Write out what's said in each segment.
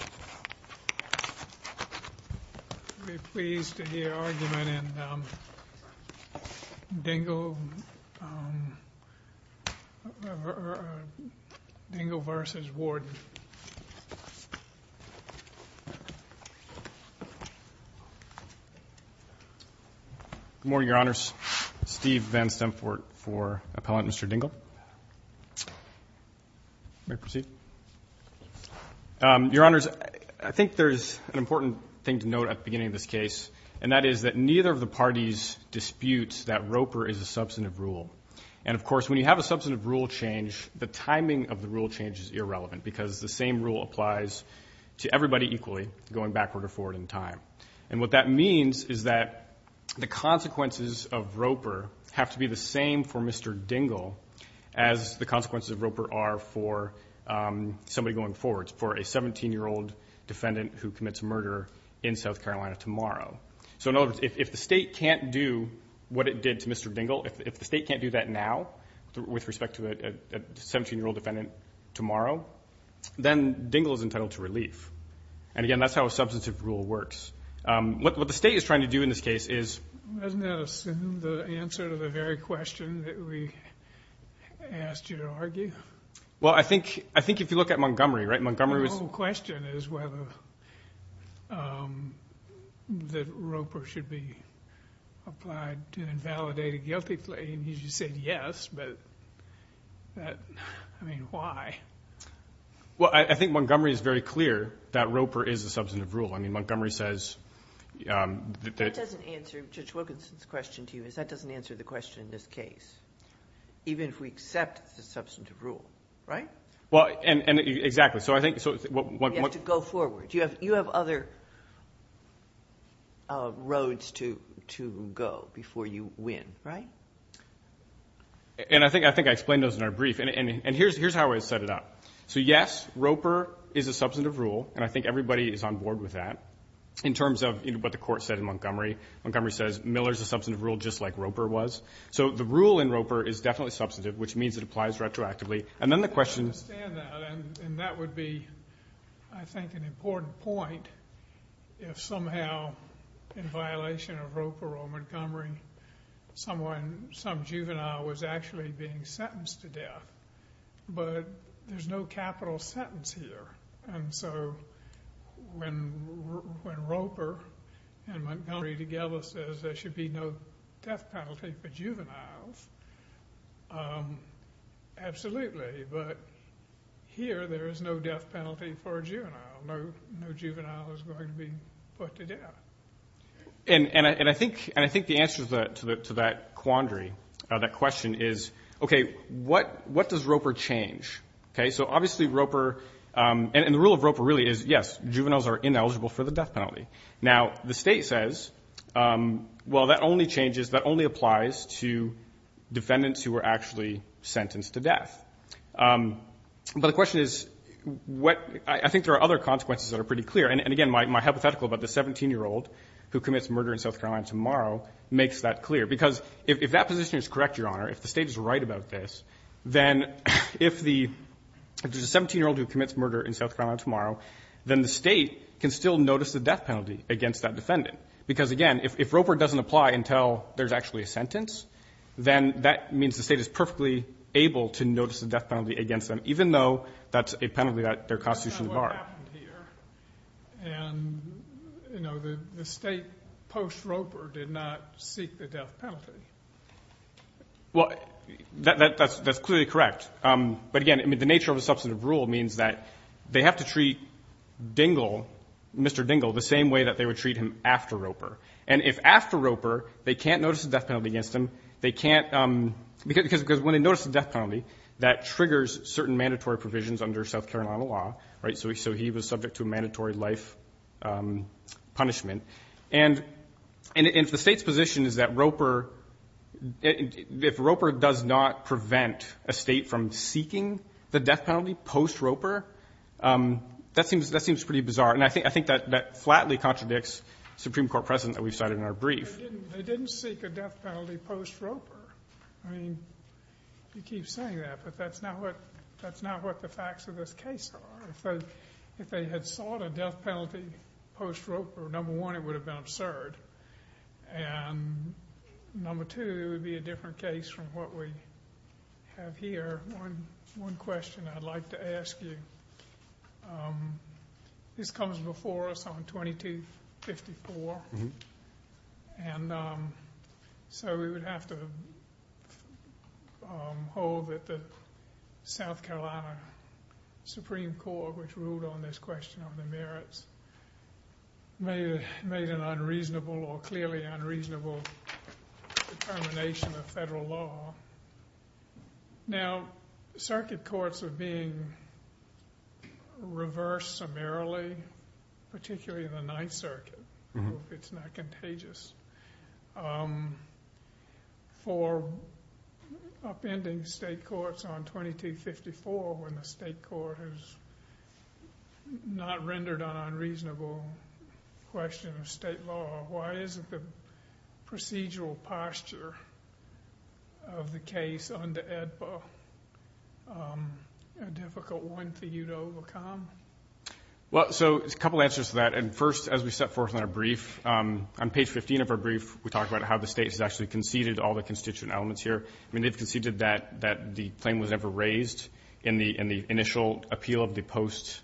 I would be pleased to hear argument in Dingle v. Warden. Good morning, Your Honors. Steve Van Stempfort for Appellant Mr. Dingle. May I proceed? Your Honors, I think there's an important thing to note at the beginning of this case, and that is that neither of the parties disputes that Roper is a substantive rule. And, of course, when you have a substantive rule change, the timing of the rule change is irrelevant because the same rule applies to everybody equally going backward or forward in time. And what that means is that the consequences of Roper have to be the same for Mr. Dingle as the consequences of Roper are for somebody going forward, for a 17-year-old defendant who commits murder in South Carolina tomorrow. So, in other words, if the state can't do what it did to Mr. Dingle, if the state can't do that now with respect to a 17-year-old defendant tomorrow, then Dingle is entitled to relief. And, again, that's how a substantive rule works. What the state is trying to do in this case is... Isn't that the answer to the very question that we asked you to argue? Well, I think if you look at Montgomery, right, Montgomery was... The whole question is whether that Roper should be applied to invalidate a guilty plea, and you just said yes, but, I mean, why? Well, I think Montgomery is very clear that Roper is a substantive rule. I mean, Montgomery says... That doesn't answer Judge Wilkinson's question to you. That doesn't answer the question in this case, even if we accept it's a substantive rule, right? Well, and exactly. So I think... You have to go forward. You have other roads to go before you win, right? And I think I explained those in our brief. And here's how I set it up. So, yes, Roper is a substantive rule, and I think everybody is on board with that, in terms of what the court said in Montgomery. Montgomery says Miller's a substantive rule just like Roper was. So the rule in Roper is definitely substantive, which means it applies retroactively. And then the question... I understand that, and that would be, I think, an important point, if somehow, in violation of Roper or Montgomery, some juvenile was actually being sentenced to death. But there's no capital sentence here. And so when Roper and Montgomery together says there should be no death penalty for juveniles, absolutely. But here there is no death penalty for a juvenile. No juvenile is going to be put to death. And I think the answer to that quandary, that question, is, okay, what does Roper change? So obviously Roper... And the rule of Roper really is, yes, juveniles are ineligible for the death penalty. Now, the state says, well, that only changes, that only applies to defendants who were actually sentenced to death. But the question is what... I think there are other consequences that are pretty clear. And, again, my hypothetical about the 17-year-old who commits murder in South Carolina tomorrow makes that clear. Because if that position is correct, Your Honor, if the State is right about this, then if the 17-year-old who commits murder in South Carolina tomorrow, then the State can still notice the death penalty against that defendant. Because, again, if Roper doesn't apply until there's actually a sentence, then that means the State is perfectly able to notice the death penalty against them, even though that's a penalty that they're constitutionally barred. But that's not what happened here. And, you know, the State post-Roper did not seek the death penalty. Well, that's clearly correct. But, again, the nature of the substantive rule means that they have to treat Dingell, Mr. Dingell, the same way that they would treat him after Roper. And if after Roper they can't notice the death penalty against him, they can't because when they notice the death penalty, that triggers certain mandatory provisions under South Carolina law. So he was subject to a mandatory life punishment. And if the State's position is that Roper does not prevent a State from seeking the death penalty post-Roper, that seems pretty bizarre. And I think that flatly contradicts Supreme Court precedent that we cited in our brief. They didn't seek a death penalty post-Roper. I mean, you keep saying that, but that's not what the facts of this case are. If they had sought a death penalty post-Roper, number one, it would have been absurd. And number two, it would be a different case from what we have here. One question I'd like to ask you. This comes before us on 2254. And so we would have to hold that the South Carolina Supreme Court, which ruled on this question of the merits, made an unreasonable or clearly unreasonable determination of federal law. Now, circuit courts are being reversed summarily, particularly in the Ninth Circuit, if it's not contagious. For upending state courts on 2254, when the state court has not rendered an unreasonable question of state law, why isn't the procedural posture of the case under AEDPA a difficult one for you to overcome? Well, so a couple answers to that. And first, as we set forth in our brief, on page 15 of our brief, we talk about how the state has actually conceded all the constituent elements here. I mean, they've conceded that the claim was never raised in the initial appeal of the post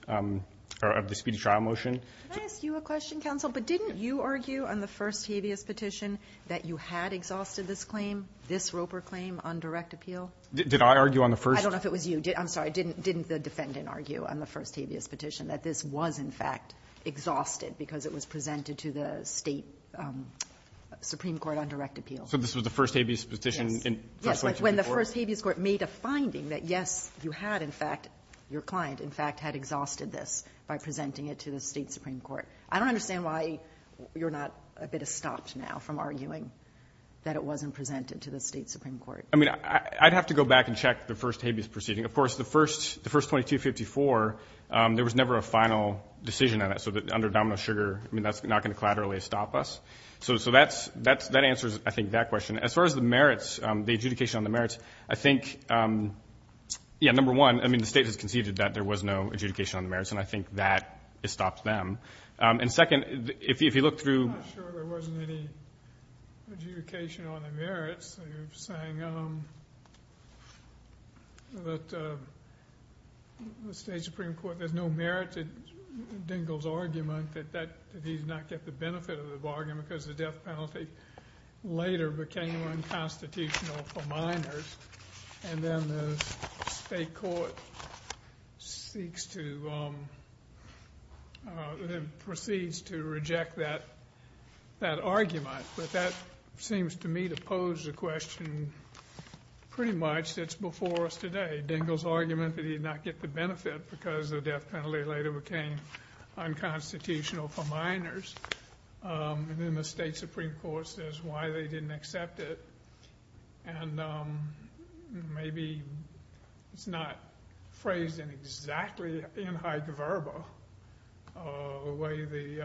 or of the speedy trial motion. Can I ask you a question, counsel? But didn't you argue on the first habeas petition that you had exhausted this claim, this Roper claim, on direct appeal? Did I argue on the first? I don't know if it was you. I'm sorry. Didn't the defendant argue on the first habeas petition that this was, in fact, exhausted because it was presented to the State Supreme Court on direct appeal? So this was the first habeas petition in South Carolina? Yes. When the first habeas court made a finding that, yes, you had, in fact, your client, in fact, had exhausted this by presenting it to the State Supreme Court. I don't understand why you're not a bit estopped now from arguing that it wasn't presented to the State Supreme Court. I mean, I'd have to go back and check the first habeas proceeding. Of course, the first 2254, there was never a final decision on it. So under Domino Sugar, I mean, that's not going to collaterally stop us. So that answers, I think, that question. As far as the merits, the adjudication on the merits, I think, yeah, number one, I mean, the State has conceded that there was no adjudication on the merits, and I think that estopped them. And second, if you look through. I'm not sure there wasn't any adjudication on the merits. You're saying that the State Supreme Court, there's no merit to Dingell's argument that he did not get the benefit of the bargain because the death penalty later became unconstitutional for minors, and then the State Court proceeds to reject that argument. But that seems to me to pose a question pretty much that's before us today, Dingell's argument that he did not get the benefit because the death penalty later became unconstitutional for minors. And then the State Supreme Court says why they didn't accept it. And maybe it's not phrased in exactly in hyperverbal the way the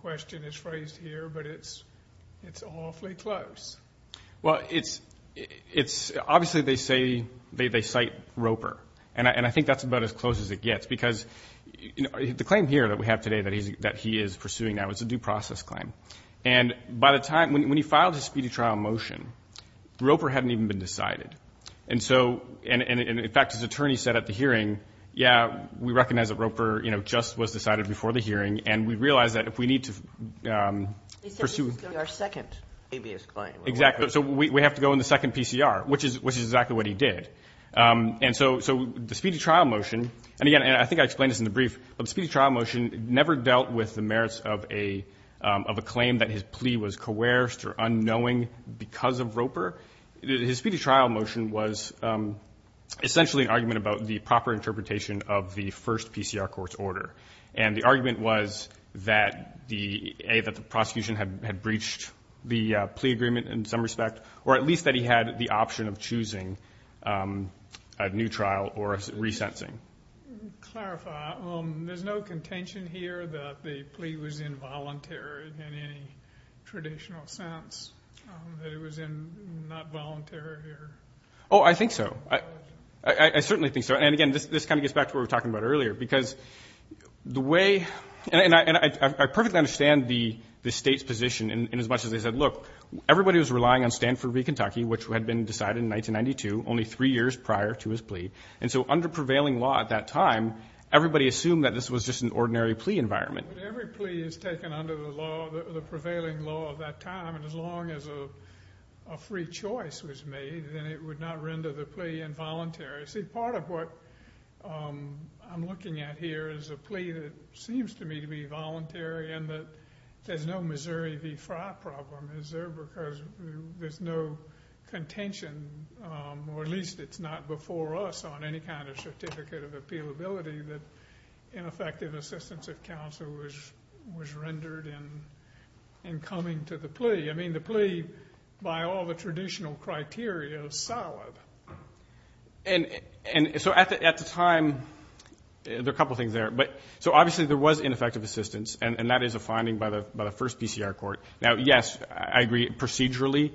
question is phrased here, but it's awfully close. Well, it's obviously they say they cite Roper, and I think that's about as close as it gets, because the claim here that we have today that he is pursuing now is a due process claim. And by the time, when he filed his speedy trial motion, Roper hadn't even been decided. And so, in fact, his attorney said at the hearing, yeah, we recognize that Roper, you know, just was decided before the hearing, and we realize that if we need to pursue. He said this is going to be our second habeas claim. Exactly. So we have to go in the second PCR, which is exactly what he did. And so the speedy trial motion, and again, I think I explained this in the brief, but the speedy trial motion never dealt with the merits of a claim that his plea was coerced or unknowing because of Roper. His speedy trial motion was essentially an argument about the proper interpretation of the first PCR court's order. And the argument was that the A, that the prosecution had breached the plea agreement in some respect, or at least that he had the option of choosing a new trial or a re-sensing. To clarify, there's no contention here that the plea was involuntary in any traditional sense, that it was not voluntary? Oh, I think so. I certainly think so. And, again, this kind of gets back to what we were talking about earlier. Because the way, and I perfectly understand the state's position in as much as they said, look, everybody was relying on Stanford v. Kentucky, which had been decided in 1992, only three years prior to his plea. And so under prevailing law at that time, everybody assumed that this was just an ordinary plea environment. But every plea is taken under the law, the prevailing law at that time, and as long as a free choice was made, then it would not render the plea involuntary. See, part of what I'm looking at here is a plea that seems to me to be voluntary and that there's no Missouri v. Fra problem. Is there because there's no contention, or at least it's not before us on any kind of certificate of appealability, that ineffective assistance of counsel was rendered in coming to the plea? I mean, the plea, by all the traditional criteria, soured. And so at the time, there are a couple of things there. So obviously there was ineffective assistance, and that is a finding by the first PCR court. Now, yes, I agree procedurally.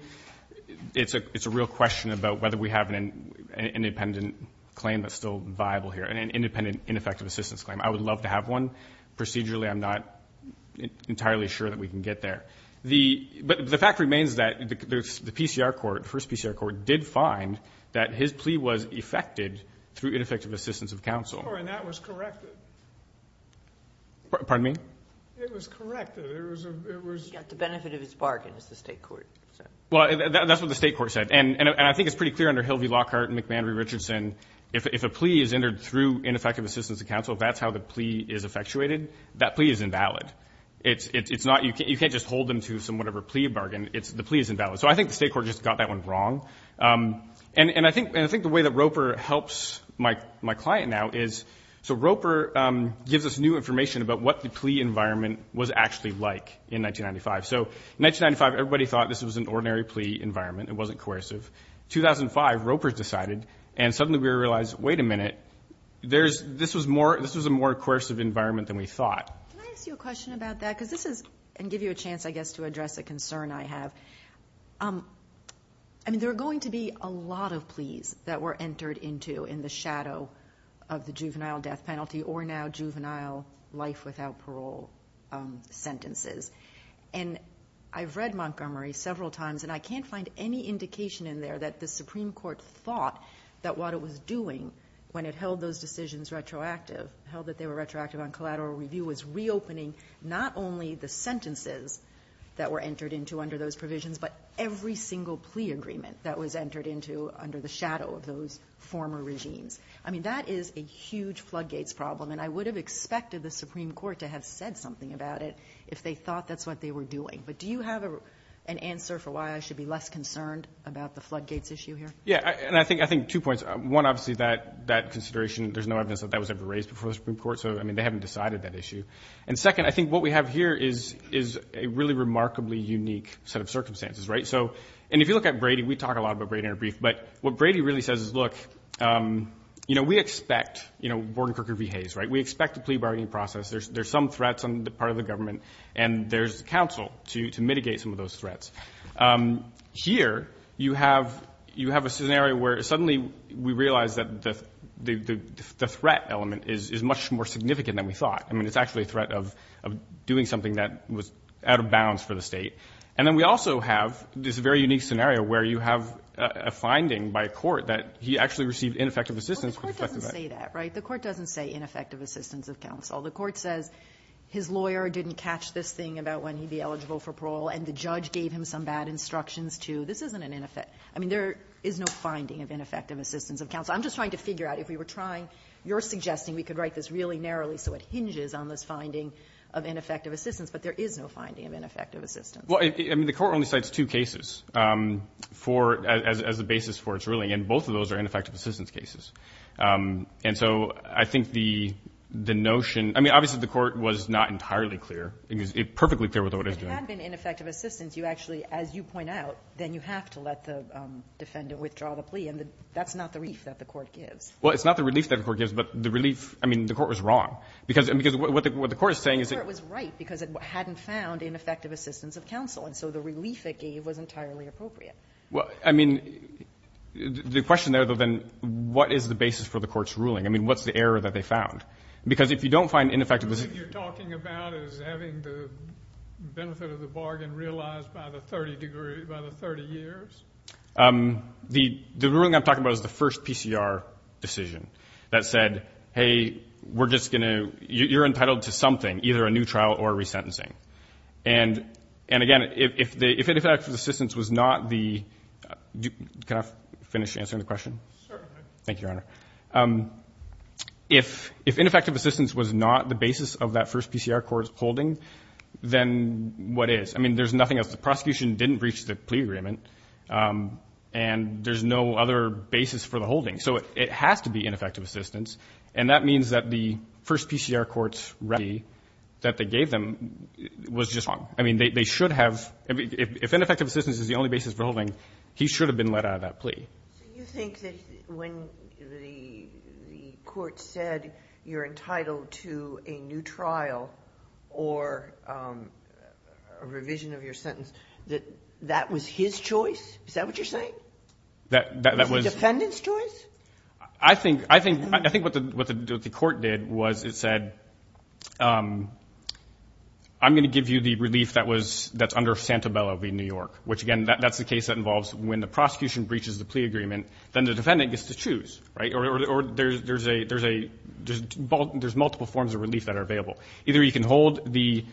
It's a real question about whether we have an independent claim that's still viable here, an independent ineffective assistance claim. I would love to have one. Procedurally, I'm not entirely sure that we can get there. But the fact remains that the PCR court, first PCR court, did find that his plea was effected through ineffective assistance of counsel. Oh, and that was corrected. Pardon me? It was corrected. He got the benefit of his bargain, as the state court said. Well, that's what the state court said. And I think it's pretty clear under Hilvey-Lockhart and McManery-Richardson, if a plea is entered through ineffective assistance of counsel, if that's how the plea is effectuated, that plea is invalid. You can't just hold them to some whatever plea bargain. The plea is invalid. So I think the state court just got that one wrong. And I think the way that ROPER helps my client now is, so ROPER gives us new information about what the plea environment was actually like in 1995. So in 1995, everybody thought this was an ordinary plea environment. It wasn't coercive. In 2005, ROPER decided, and suddenly we realized, wait a minute, this was a more coercive environment than we thought. Can I ask you a question about that? Because this is going to give you a chance, I guess, to address a concern I have. I mean, there are going to be a lot of pleas that were entered into in the shadow of the juvenile death penalty or now juvenile life without parole sentences. And I've read Montgomery several times, and I can't find any indication in there that the Supreme Court thought that what it was doing when it held those decisions retroactive, held that they were retroactive on collateral review, was reopening not only the sentences that were entered into under those provisions, but every single plea agreement that was entered into under the shadow of those former regimes. I mean, that is a huge floodgates problem, and I would have expected the Supreme Court to have said something about it if they thought that's what they were doing. But do you have an answer for why I should be less concerned about the floodgates issue here? Yeah, and I think two points. One, obviously, that consideration, there's no evidence that that was ever raised before the Supreme Court, so, I mean, they haven't decided that issue. And second, I think what we have here is a really remarkably unique set of circumstances, right? So, and if you look at Brady, we talk a lot about Brady in a brief, but what Brady really says is, look, you know, we expect, you know, Borden, Crooker v. Hayes, right? We expect a plea bargaining process. There's some threats on the part of the government, and there's counsel to mitigate some of those threats. Here, you have a scenario where suddenly we realize that the threat element is much more significant than we thought. I mean, it's actually a threat of doing something that was out of bounds for the State. And then we also have this very unique scenario where you have a finding by a court that he actually received ineffective assistance. Well, the court doesn't say that, right? The court doesn't say ineffective assistance of counsel. The court says his lawyer didn't catch this thing about when he'd be eligible for parole, and the judge gave him some bad instructions to, this isn't an ineffective, I mean, there is no finding of ineffective assistance of counsel. I'm just trying to figure out if we were trying, you're suggesting we could write this really narrowly so it hinges on this finding of ineffective assistance, but there is no finding of ineffective assistance. Well, I mean, the court only cites two cases for, as a basis for its ruling, and both of those are ineffective assistance cases. And so I think the notion, I mean, obviously the court was not entirely clear. It was perfectly clear with what it was doing. But if there had been ineffective assistance, you actually, as you point out, then you have to let the defendant withdraw the plea. And that's not the relief that the court gives. Well, it's not the relief that the court gives, but the relief, I mean, the court was wrong. Because what the court is saying is that the court was right because it hadn't found ineffective assistance of counsel. And so the relief it gave was entirely appropriate. Well, I mean, the question there, then, what is the basis for the court's ruling? I mean, what's the error that they found? Because if you don't find ineffective assistance of counsel. The ruling you're talking about is having the benefit of the bargain realized by the 30 years? The ruling I'm talking about is the first PCR decision that said, hey, we're just going to, you're entitled to something, either a new trial or resentencing. And, again, if ineffective assistance was not the, can I finish answering the question? Certainly. Thank you, Your Honor. If ineffective assistance was not the basis of that first PCR court's holding, then what is? I mean, there's nothing else. The prosecution didn't reach the plea agreement. And there's no other basis for the holding. So it has to be ineffective assistance. And that means that the first PCR court's remedy that they gave them was just wrong. I mean, they should have, if ineffective assistance is the only basis for holding, he should have been let out of that plea. So you think that when the court said you're entitled to a new trial or a revision of your sentence, that that was his choice? Is that what you're saying? That was the defendant's choice? I think what the court did was it said, I'm going to give you the relief that was, that's under Santabella v. New York. Which, again, that's the case that involves when the prosecution breaches the plea agreement, then the defendant gets to choose. Or there's multiple forms of relief that are available. Either you can hold the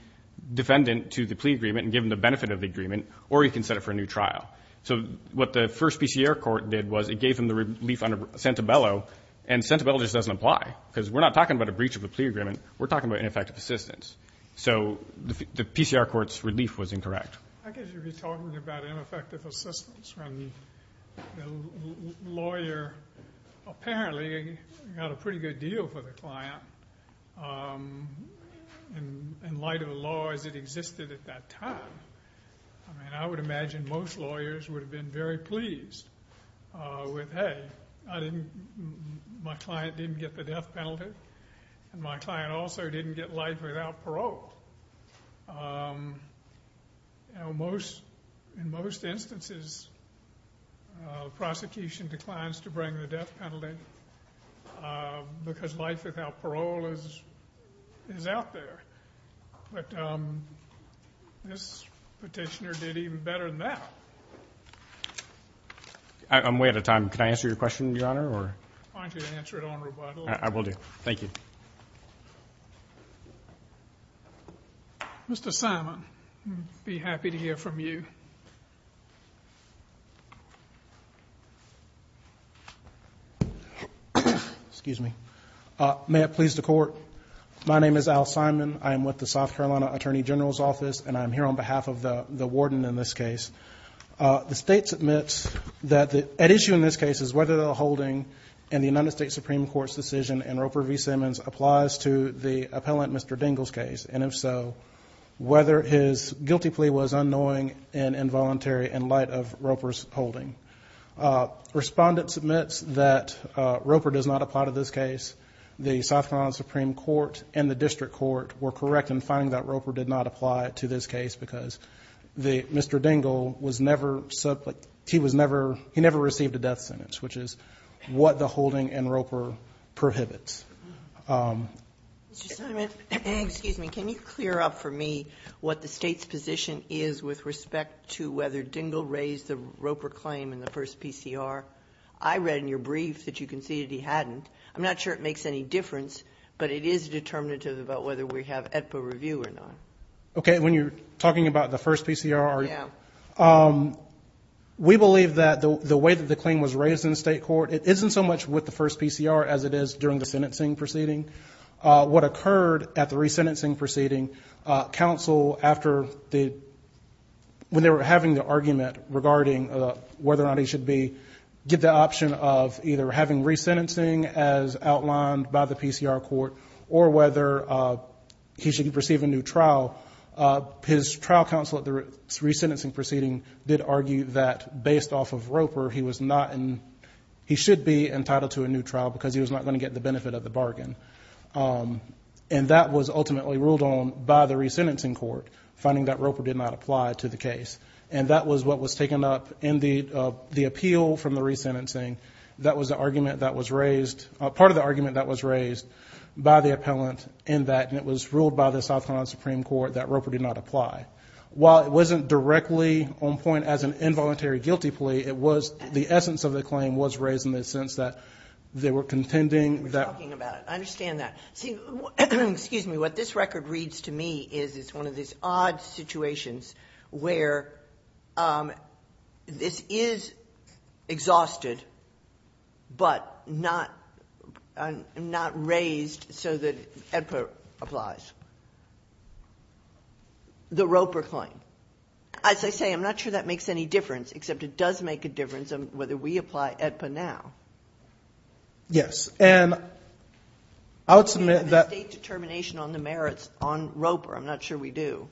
defendant to the plea agreement and give them the benefit of the agreement, or you can set it for a new trial. So what the first PCR court did was it gave them the relief under Santabella, and Santabella just doesn't apply because we're not talking about a breach of the plea agreement. We're talking about ineffective assistance. So the PCR court's relief was incorrect. I guess you'd be talking about ineffective assistance when the lawyer apparently got a pretty good deal for the client in light of a law as it existed at that time. I mean, I would imagine most lawyers would have been very pleased with, hey, my client didn't get the death penalty, and my client also didn't get life without parole. In most instances, prosecution declines to bring the death penalty because life without parole is out there. But this petitioner did even better than that. I'm way out of time. Can I answer your question, Your Honor? I want you to answer it on rebuttal. I will do. Thank you. Mr. Simon, I'd be happy to hear from you. May it please the Court. My name is Al Simon. I am with the South Carolina Attorney General's Office, and I am here on behalf of the warden in this case. The State submits that at issue in this case is whether the holding in the United States Supreme Court's decision in Roper v. Simmons applies to the appellant Mr. Dingell's case, and if so, whether his guilty plea was unknowing and involuntary in light of Roper's holding. Respondent submits that Roper does not apply to this case. The South Carolina Supreme Court and the district court were correct in finding that Roper did not apply to this case because Mr. Dingell was never, he never received a death sentence, which is what the holding in Roper prohibits. Mr. Simon, can you clear up for me what the State's position is with respect to whether Dingell raised the Roper claim in the first PCR? I read in your brief that you conceded he hadn't. I'm not sure it makes any difference, but it is determinative about whether we have AEDPA review or not. Okay, when you're talking about the first PCR, are you? Yeah. We believe that the way that the claim was raised in the State court, it isn't so much with the first PCR as it is during the sentencing proceeding. What occurred at the resentencing proceeding, counsel after the, when they were having the argument regarding whether or not he should be, get the option of either having resentencing as outlined by the PCR court or whether he should receive a new trial. His trial counsel at the resentencing proceeding did argue that based off of Roper, he was not in, he should be entitled to a new trial because he was not going to get the benefit of the bargain. And that was ultimately ruled on by the resentencing court, finding that Roper did not apply to the case. And that was what was taken up in the appeal from the resentencing. That was the argument that was raised, part of the argument that was raised by the appellant in that, and it was ruled by the South Carolina Supreme Court that Roper did not apply. While it wasn't directly on point as an involuntary guilty plea, it was the essence of the claim was raised in the sense that they were contending that. I understand that. See, excuse me, what this record reads to me is it's one of these odd situations where this is exhausted, but not raised so that EDPA applies. The Roper claim. As I say, I'm not sure that makes any difference, except it does make a difference on whether we apply EDPA now. Yes. And I would submit that the State determination on the merits on Roper, I'm not sure we do.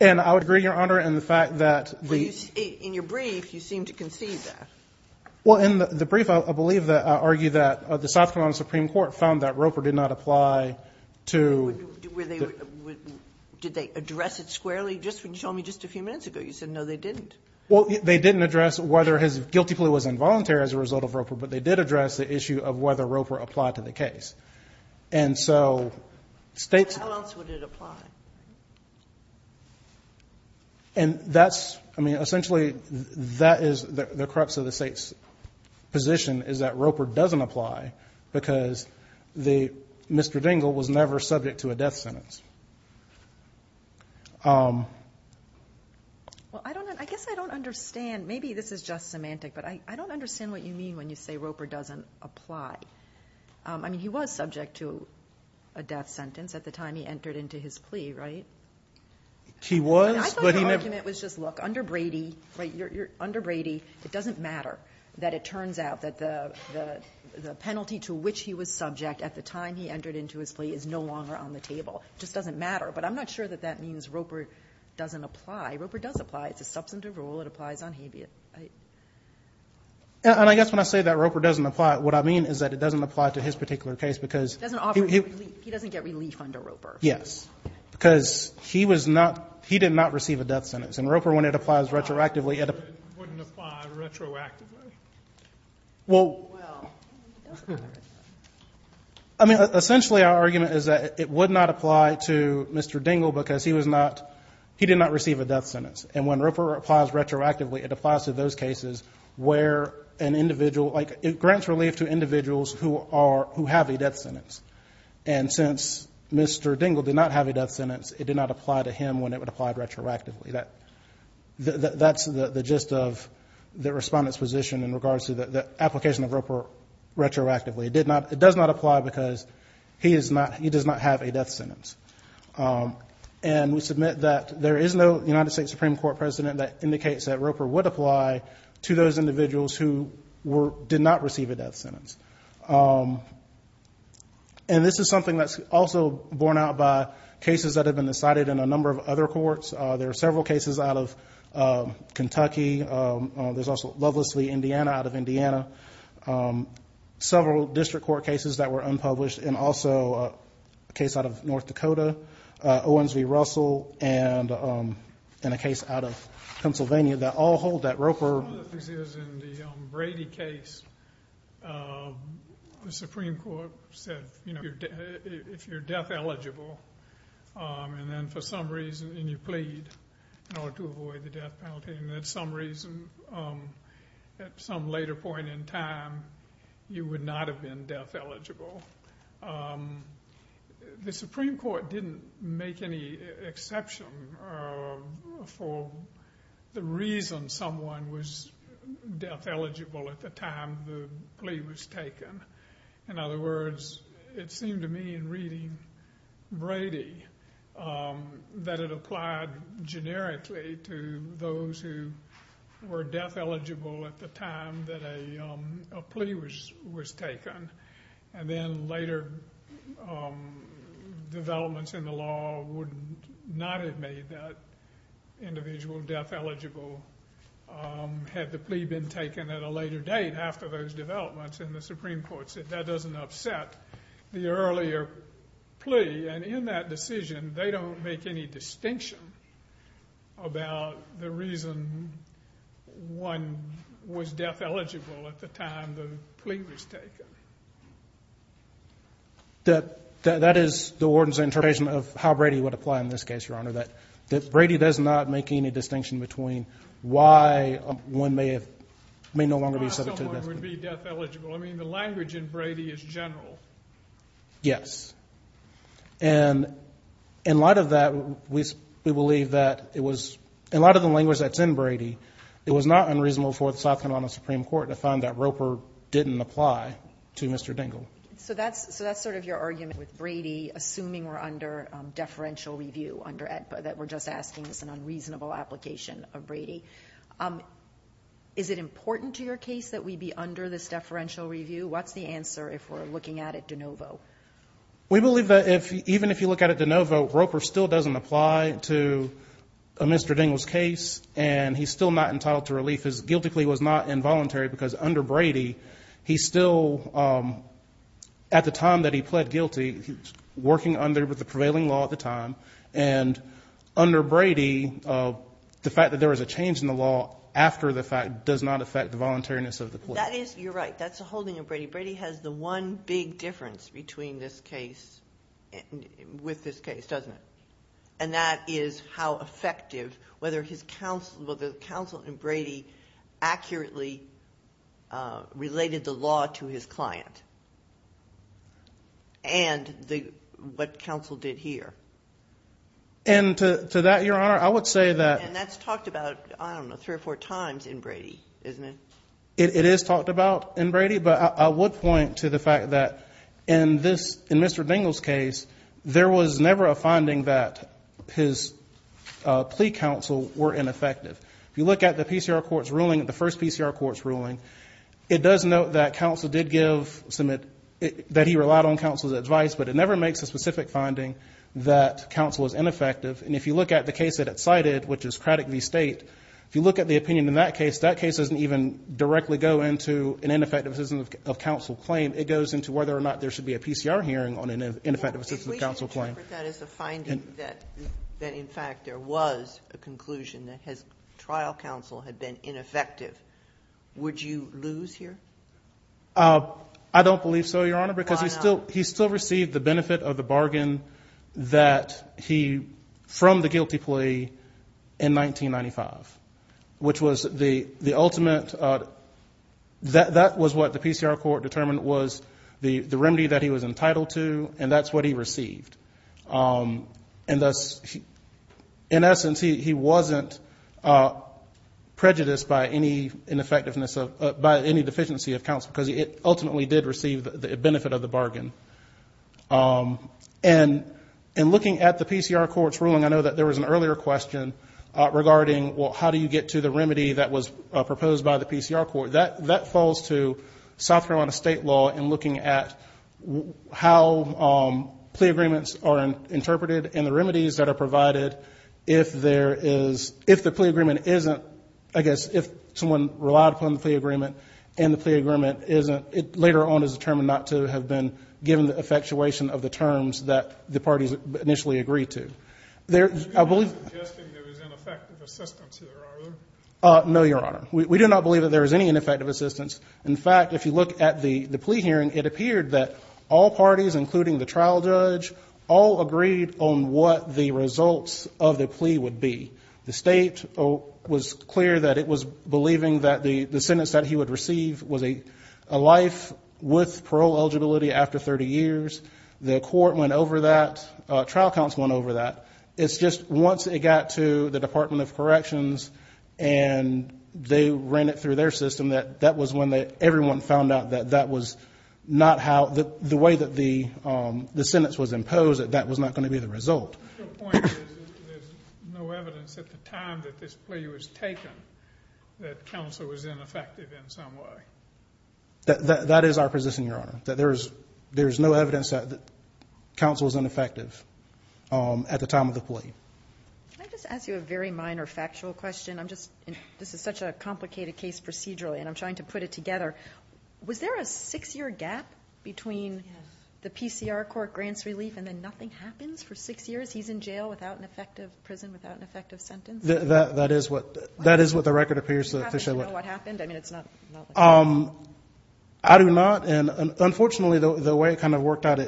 And I would agree, Your Honor, in the fact that the In your brief, you seem to concede that. Well, in the brief, I believe that I argue that the South Carolina Supreme Court found that Roper did not apply to Did they address it squarely? Just when you told me just a few minutes ago, you said no, they didn't. Well, they didn't address whether his guilty plea was involuntary as a result of Roper, but they did address the issue of whether Roper applied to the case. And so states How else would it apply? And that's I mean, essentially, that is the crux of the state's position is that Roper doesn't apply because the Mr. Dingell was never subject to a death sentence. Well, I don't know. I guess I don't understand. Maybe this is just semantic, but I don't understand what you mean when you say Roper doesn't apply. I mean, he was subject to a death sentence at the time he entered into his plea, right? He was, but he never I thought the argument was just look, under Brady, under Brady, it doesn't matter that it turns out that the penalty to which he was subject at the time he entered into his plea is no longer on the table. It just doesn't matter. But I'm not sure that that means Roper doesn't apply. Roper does apply. It's a substantive rule. It applies on habeas. And I guess when I say that Roper doesn't apply, what I mean is that it doesn't apply to his particular case because He doesn't get relief under Roper. Yes. Because he was not he did not receive a death sentence. And Roper, when it applies retroactively, it Well, I mean, essentially, our argument is that it would not apply to Mr. Dingell because he was not he did not receive a death sentence. And when Roper applies retroactively, it applies to those cases where an individual like it grants relief to individuals who are who have a death sentence. And since Mr. Dingell did not have a death sentence, it did not apply to him when it would apply retroactively. That that's the gist of the respondent's position in regards to the application of Roper retroactively. It did not it does not apply because he is not he does not have a death sentence. And we submit that there is no United States Supreme Court president that indicates that Roper would apply to those individuals who were did not receive a death sentence. And this is something that's also borne out by cases that have been decided in a number of other courts. There are several cases out of Kentucky. There's also lovelessly Indiana out of Indiana. Several district court cases that were unpublished and also a case out of North Dakota. Owens v. Russell and in a case out of Pennsylvania that all hold that Roper. This is in the Brady case. The Supreme Court said, you know, if you're death eligible and then for some reason, and you plead in order to avoid the death penalty and that some reason at some later point in time, you would not have been death eligible. The Supreme Court didn't make any exception for the reason someone was death eligible at the time the plea was taken. In other words, it seemed to me in reading Brady that it applied generically to those who were death eligible at the time that a plea was taken. And then later developments in the law would not have made that individual death eligible had the plea been taken at a later date after those developments and the Supreme Court said that doesn't upset the earlier plea. And in that decision, they don't make any distinction about the reason one was death eligible at the time the plea was taken. That is the ordinance interpretation of how Brady would apply in this case, Your Honor, that Brady does not make any distinction between why one may no longer be subject to death penalty. Of course someone would be death eligible. I mean, the language in Brady is general. Yes. And in light of that, we believe that it was, in light of the language that's in Brady, it was not unreasonable for the South Carolina Supreme Court to find that Roper didn't apply to Mr. Dingell. So that's sort of your argument with Brady, assuming we're under deferential review, that we're just asking it's an unreasonable application of Brady. Is it important to your case that we be under this deferential review? What's the answer if we're looking at it de novo? We believe that even if you look at it de novo, Roper still doesn't apply to Mr. Dingell's case, and he's still not entitled to relief. His guilty plea was not involuntary because under Brady, he still, at the time that he pled guilty, he was working under the prevailing law at the time, and under Brady, the fact that there was a change in the law after the fact does not affect the voluntariness of the plea. That is, you're right, that's a holding of Brady. Brady has the one big difference between this case, with this case, doesn't it? And that is how effective, whether the counsel in Brady accurately related the law to his client, and what counsel did here. And to that, Your Honor, I would say that. And that's talked about, I don't know, three or four times in Brady, isn't it? It is talked about in Brady, but I would point to the fact that in Mr. Dingell's case, there was never a finding that his plea counsel were ineffective. If you look at the PCR court's ruling, the first PCR court's ruling, it does note that counsel did give some, that he relied on counsel's advice, but it never makes a specific finding that counsel is ineffective. And if you look at the case that it cited, which is Craddock v. State, if you look at the opinion in that case, that case doesn't even directly go into an ineffective assistance of counsel claim. It goes into whether or not there should be a PCR hearing on an ineffective assistance of counsel claim. If we interpret that as a finding that in fact there was a conclusion that his trial counsel had been ineffective, would you lose here? I don't believe so, Your Honor. Why not? Because he still received the benefit of the bargain that he, from the guilty plea in 1995, which was the ultimate, that was what the PCR court determined was the remedy that he was entitled to, and that's what he received. And thus, in essence, he wasn't prejudiced by any ineffectiveness of, by any deficiency of counsel because he ultimately did receive the benefit of the bargain. And in looking at the PCR court's ruling, I know that there was an earlier question regarding, well, how do you get to the remedy that was proposed by the PCR court? That falls to South Carolina state law in looking at how plea agreements are interpreted and the remedies that are provided if there is, if the plea agreement isn't, I guess, if someone relied upon the plea agreement and the plea agreement isn't, it later on is determined not to have been given the effectuation of the terms that the parties initially agreed to. There, I believe. You're not suggesting there was ineffective assistance here, are there? No, Your Honor. We do not believe that there was any ineffective assistance. In fact, if you look at the plea hearing, it appeared that all parties, including the trial judge, all agreed on what the results of the plea would be. The state was clear that it was believing that the sentence that he would receive was a life with parole eligibility after 30 years. The court went over that. Trial counsel went over that. It's just once it got to the Department of Corrections and they ran it through their system, that that was when everyone found out that that was not how, the way that the sentence was imposed, that that was not going to be the result. Your point is there's no evidence at the time that this plea was taken that counsel was ineffective in some way. That is our position, Your Honor, that there is no evidence that counsel was ineffective at the time of the plea. Can I just ask you a very minor factual question? I'm just, this is such a complicated case procedurally and I'm trying to put it together. Was there a six-year gap between the PCR court grants relief and then nothing happens for six years? He's in jail without an effective prison, without an effective sentence? That is what the record appears to show. Do you happen to know what happened? I do not, and unfortunately the way it kind of worked out,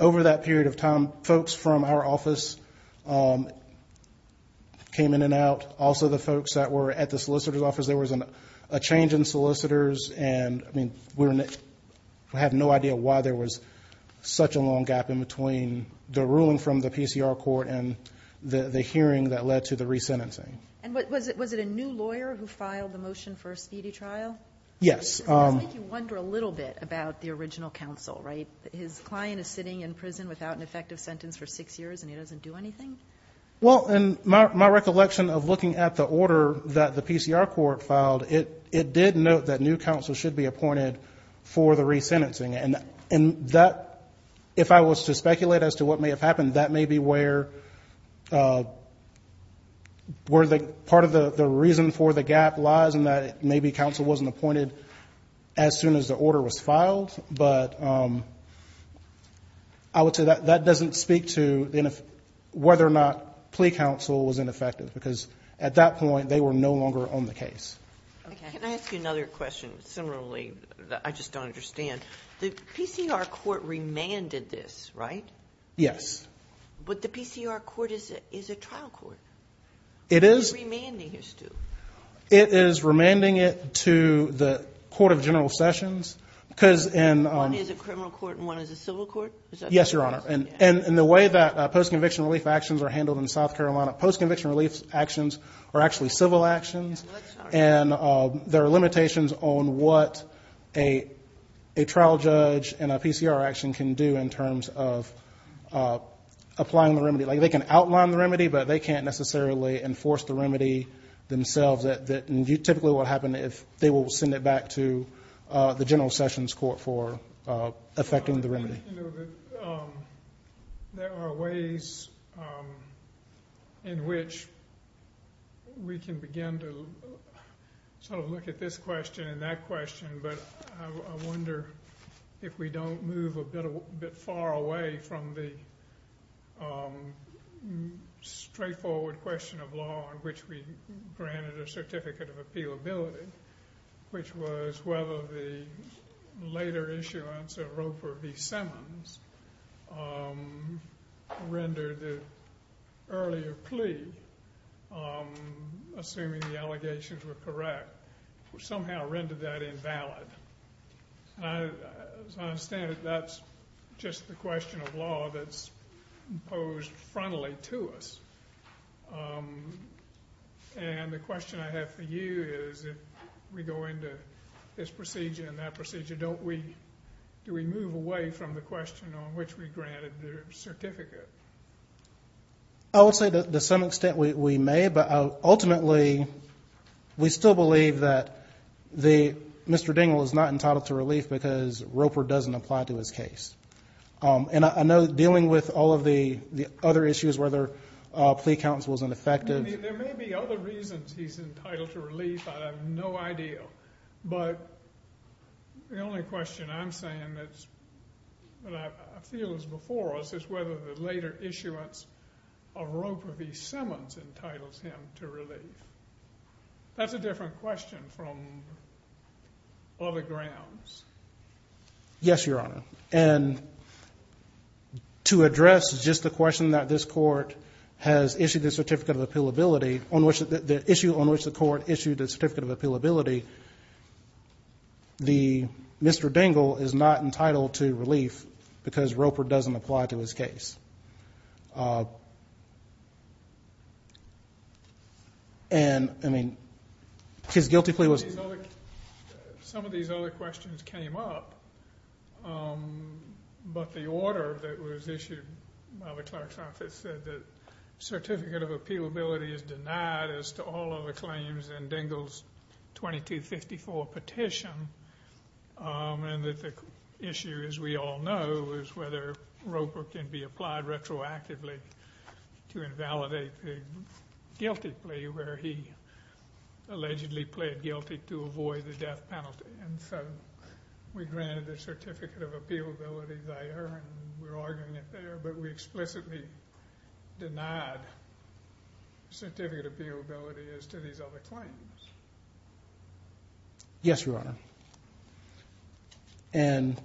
over that period of time, folks from our office came in and out, also the folks that were at the solicitor's office. There was a change in solicitors and we have no idea why there was such a long gap in between the ruling from the PCR court and the hearing that led to the resentencing. Was it a new lawyer who filed the motion for a speedy trial? Yes. It does make you wonder a little bit about the original counsel, right? His client is sitting in prison without an effective sentence for six years and he doesn't do anything? Well, in my recollection of looking at the order that the PCR court filed, it did note that new counsel should be appointed for the resentencing. And that, if I was to speculate as to what may have happened, that may be where part of the reason for the gap lies in that maybe counsel wasn't appointed as soon as the order was filed. But I would say that doesn't speak to whether or not plea counsel was ineffective because at that point they were no longer on the case. Can I ask you another question similarly that I just don't understand? The PCR court remanded this, right? Yes. But the PCR court is a trial court. It is. What is it remanding here, Stu? It is remanding it to the Court of General Sessions. One is a criminal court and one is a civil court? Yes, Your Honor. And the way that post-conviction relief actions are handled in South Carolina, post-conviction relief actions are actually civil actions. And there are limitations on what a trial judge and a PCR action can do in terms of applying the remedy. Like they can outline the remedy, but they can't necessarily enforce the remedy themselves. Typically what would happen is they will send it back to the General Sessions Court for effecting the remedy. There are ways in which we can begin to sort of look at this question and that question, but I wonder if we don't move a bit far away from the straightforward question of law in which we granted a certificate of appealability, which was whether the later issuance of Roper v. Simmons rendered the earlier plea, assuming the allegations were correct, somehow rendered that invalid. As I understand it, that's just the question of law that's posed frontally to us. And the question I have for you is if we go into this procedure and that procedure, don't we move away from the question on which we granted the certificate? I would say to some extent we may, but ultimately we still believe that Mr. Dingell is not entitled to relief because Roper doesn't apply to his case. And I know dealing with all of the other issues, whether plea counsel is ineffective. There may be other reasons he's entitled to relief. I have no idea. But the only question I'm saying that I feel is before us is whether the later issuance of Roper v. Simmons entitles him to relief. That's a different question from other grounds. Yes, Your Honor. And to address just the question that this court has issued the certificate of appealability, the issue on which the court issued the certificate of appealability, Mr. Dingell is not entitled to relief because Roper doesn't apply to his case. And, I mean, his guilty plea was- Some of these other questions came up, but the order that was issued by the clerk's office said that certificate of appealability is denied as to all of the claims in Dingell's 2254 petition. And the issue, as we all know, is whether Roper can be applied retroactively to invalidate the guilty plea, where he allegedly pled guilty to avoid the death penalty. And so we granted a certificate of appealability there, and we're arguing it there, but we explicitly denied certificate of appealability as to these other claims. Yes, Your Honor. And,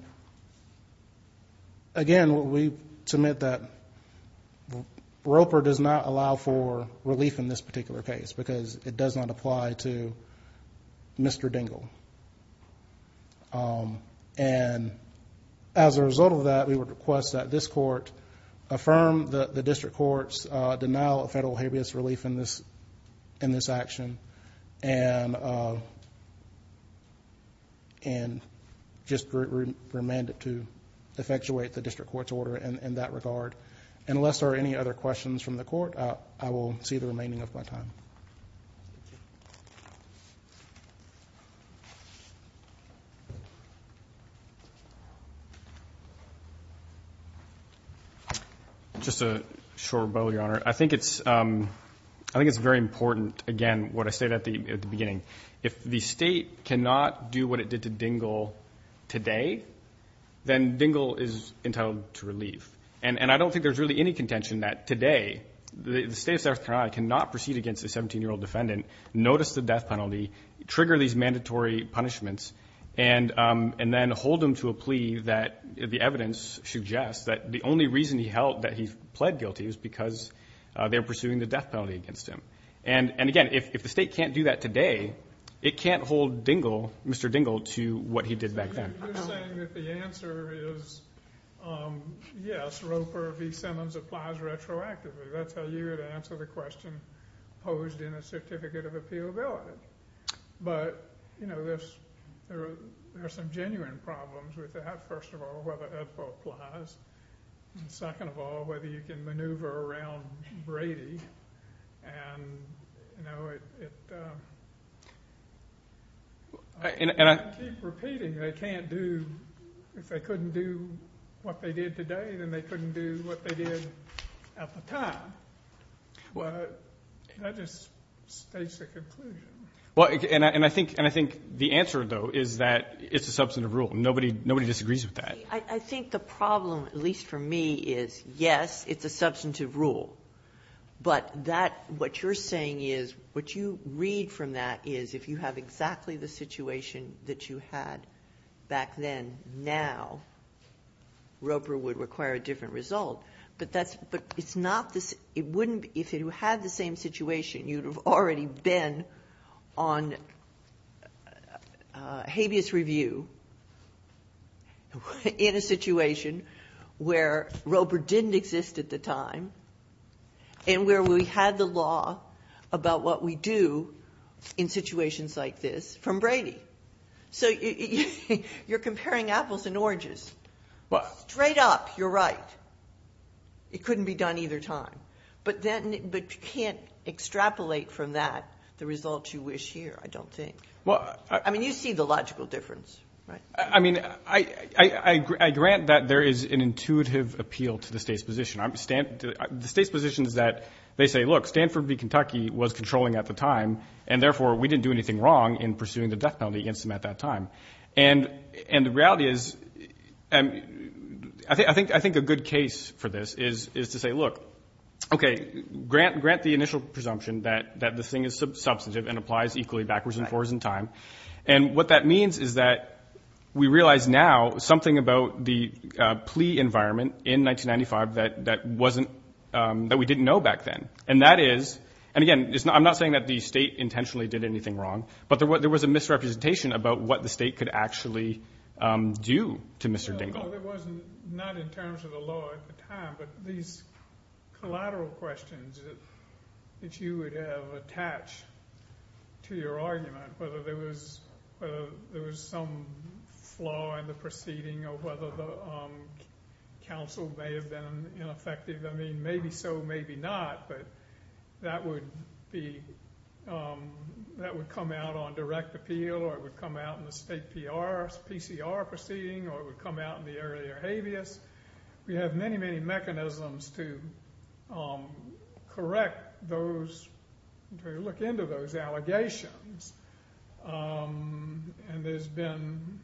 again, we submit that Roper does not allow for relief in this particular case because it does not apply to Mr. Dingell. And as a result of that, we would request that this court affirm the district court's denial of federal habeas relief in this action. And just remand it to effectuate the district court's order in that regard. Unless there are any other questions from the court, I will see the remaining of my time. I think it's very important, again, what I said at the beginning. If the State cannot do what it did to Dingell today, then Dingell is entitled to relief. And I don't think there's really any contention that today the State of South Carolina cannot proceed against a 17-year-old defendant, notice the death penalty, trigger these mandatory punishments, and then hold him to a plea that the evidence suggests that the only reason he held that he pled guilty was because they were pursuing the death penalty against him. And, again, if the State can't do that today, it can't hold Mr. Dingell to what he did back then. You're saying that the answer is, yes, Roper v. Simmons applies retroactively. That's how you would answer the question posed in a certificate of appealability. But, you know, there's some genuine problems with that. First of all, whether it applies. Second of all, whether you can maneuver around Brady. And, you know, I keep repeating, they can't do, if they couldn't do what they did today, then they couldn't do what they did at the time. Well, can I just stage the conclusion? Well, and I think the answer, though, is that it's a substantive rule. Nobody disagrees with that. I think the problem, at least for me, is, yes, it's a substantive rule. But that, what you're saying is, what you read from that is, if you have exactly the situation that you had back then, now Roper would require a different result. But that's, but it's not, it wouldn't, if you had the same situation, you'd have already been on habeas review in a situation where Roper didn't exist at the time. And where we had the law about what we do in situations like this from Brady. So you're comparing apples and oranges. Straight up, you're right. It couldn't be done either time. But you can't extrapolate from that the results you wish here, I don't think. I mean, you see the logical difference, right? I mean, I grant that there is an intuitive appeal to the state's position. The state's position is that they say, look, Stanford v. Kentucky was controlling at the time, and therefore we didn't do anything wrong in pursuing the death penalty against them at that time. And the reality is, I think a good case for this is to say, look, okay, grant the initial presumption that the thing is substantive and applies equally backwards and forwards in time. And what that means is that we realize now something about the plea environment in 1995 that wasn't, that we didn't know back then. And that is, and again, I'm not saying that the state intentionally did anything wrong, but there was a misrepresentation about what the state could actually do to Mr. Dingell. There wasn't, not in terms of the law at the time, but these collateral questions that you would have attached to your argument, whether there was some flaw in the proceeding or whether the counsel may have been ineffective. I mean, maybe so, maybe not, but that would be, that would come out on direct appeal, or it would come out in the state PCR proceeding, or it would come out in the earlier habeas. We have many, many mechanisms to correct those, to look into those allegations. And there's been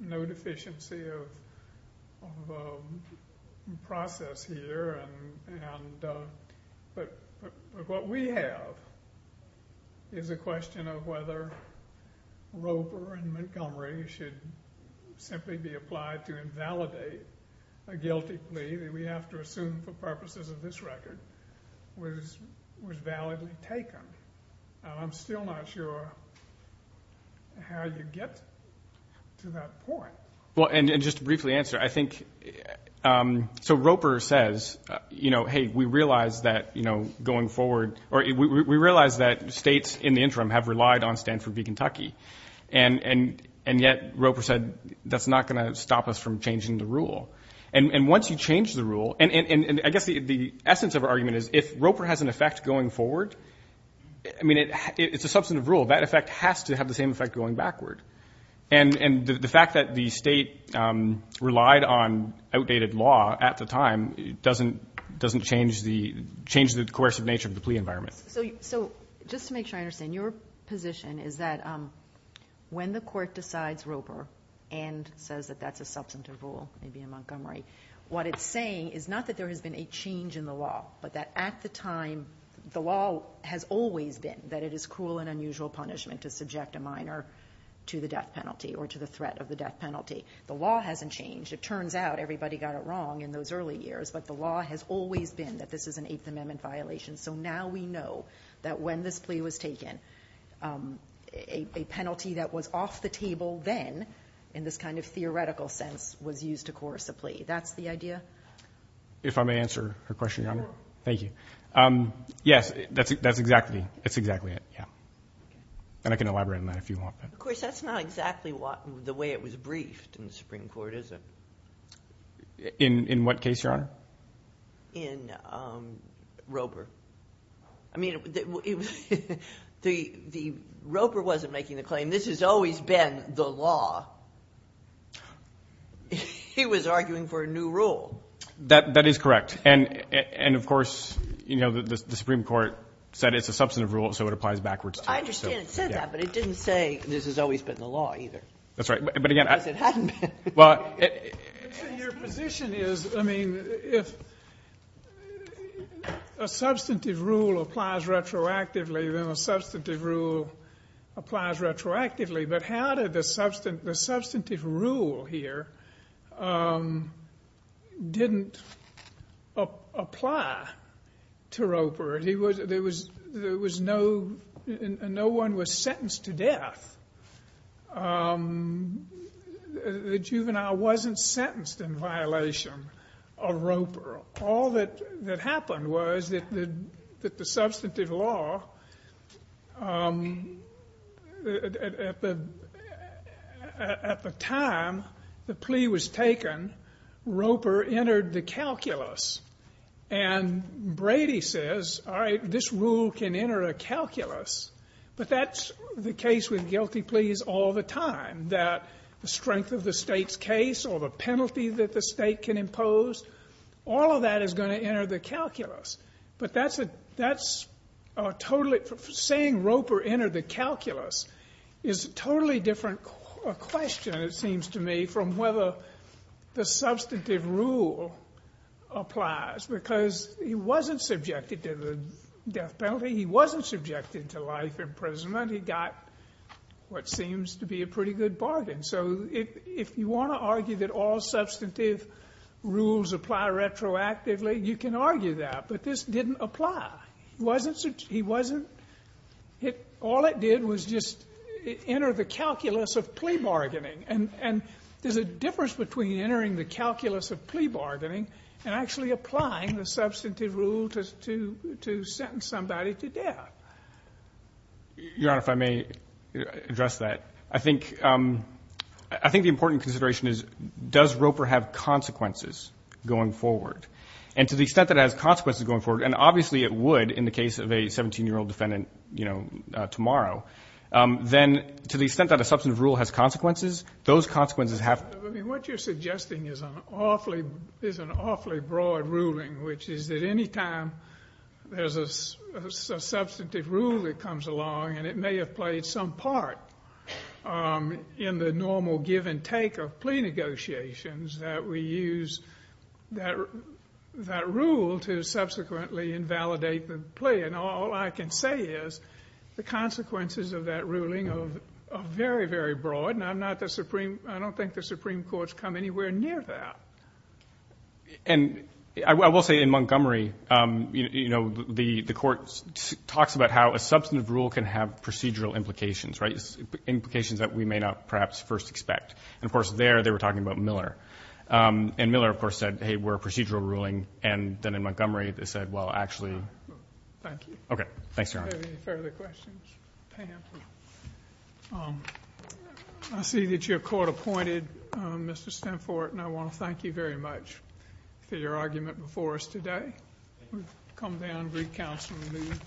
no deficiency of process here, and, but what we have is a question of whether Roper and Montgomery should simply be applied to invalidate a guilty plea that we have to assume for purposes of this record was validly taken. And I'm still not sure how you get to that point. Well, and just to briefly answer, I think, so Roper says, you know, hey, we realize that, you know, going forward, or we realize that states in the interim have relied on Stanford v. Kentucky, and yet Roper said that's not going to stop us from changing the rule. And once you change the rule, and I guess the essence of our argument is if Roper has an effect going forward, I mean, it's a substantive rule. That effect has to have the same effect going backward. And the fact that the State relied on outdated law at the time doesn't change the coercive nature of the plea environment. So just to make sure I understand, your position is that when the Court decides Roper and says that that's a substantive rule, maybe in Montgomery, what it's saying is not that there has been a change in the law, but that at the time the law has always been that it is cruel and unusual punishment to subject a minor to the death penalty or to the threat of the death penalty. The law hasn't changed. It turns out everybody got it wrong in those early years, but the law has always been that this is an Eighth Amendment violation. So now we know that when this plea was taken, a penalty that was off the table then, in this kind of theoretical sense, was used to coerce a plea. That's the idea? If I may answer her question, Your Honor. Thank you. Yes, that's exactly it, yeah. And I can elaborate on that if you want. Of course, that's not exactly the way it was briefed in the Supreme Court, is it? In what case, Your Honor? In Roper. I mean, Roper wasn't making the claim, this has always been the law. He was arguing for a new rule. That is correct. And, of course, you know, the Supreme Court said it's a substantive rule, so it applies backwards, too. I understand it said that, but it didn't say this has always been the law, either. That's right. Because it hadn't been. Your position is, I mean, if a substantive rule applies retroactively, then a substantive rule applies retroactively. But how did the substantive rule here didn't apply to Roper? There was no one was sentenced to death. The juvenile wasn't sentenced in violation of Roper. All that happened was that the substantive law, at the time the plea was taken, Roper entered the calculus. And Brady says, all right, this rule can enter a calculus, but that's the case with guilty pleas all the time, that the strength of the State's case or the penalty that the State can impose, all of that is going to enter the calculus. But that's a totally — saying Roper entered the calculus is a totally different question, it seems to me, from whether the substantive rule applies, because he wasn't subjected to the death penalty. He wasn't subjected to life imprisonment. He got what seems to be a pretty good bargain. So if you want to argue that all substantive rules apply retroactively, you can argue that. But this didn't apply. He wasn't — all it did was just enter the calculus of plea bargaining. And there's a difference between entering the calculus of plea bargaining and actually applying the substantive rule to sentence somebody to death. Your Honor, if I may address that. I think the important consideration is, does Roper have consequences going forward? And to the extent that it has consequences going forward, and obviously it would in the case of a 17-year-old defendant, you know, tomorrow, then to the extent that a substantive rule has consequences, those consequences have — I mean, what you're suggesting is an awfully broad ruling, which is that any time there's a substantive rule that comes along, and it may have played some part in the normal give and take of plea negotiations, that we use that rule to subsequently invalidate the plea. And all I can say is the consequences of that ruling are very, very broad, and I'm not the Supreme — I don't think the Supreme Court's come anywhere near that. And I will say in Montgomery, you know, the Court talks about how a substantive rule can have procedural implications, right, implications that we may not perhaps first expect. And, of course, there they were talking about Miller. And Miller, of course, said, hey, we're a procedural ruling. And then in Montgomery, they said, well, actually — Thank you. Okay. Thanks, Your Honor. Do you have any further questions? Pam? I see that your court appointed Mr. Stemfort, and I want to thank you very much for your argument before us today. We've come down, recounted, and moved.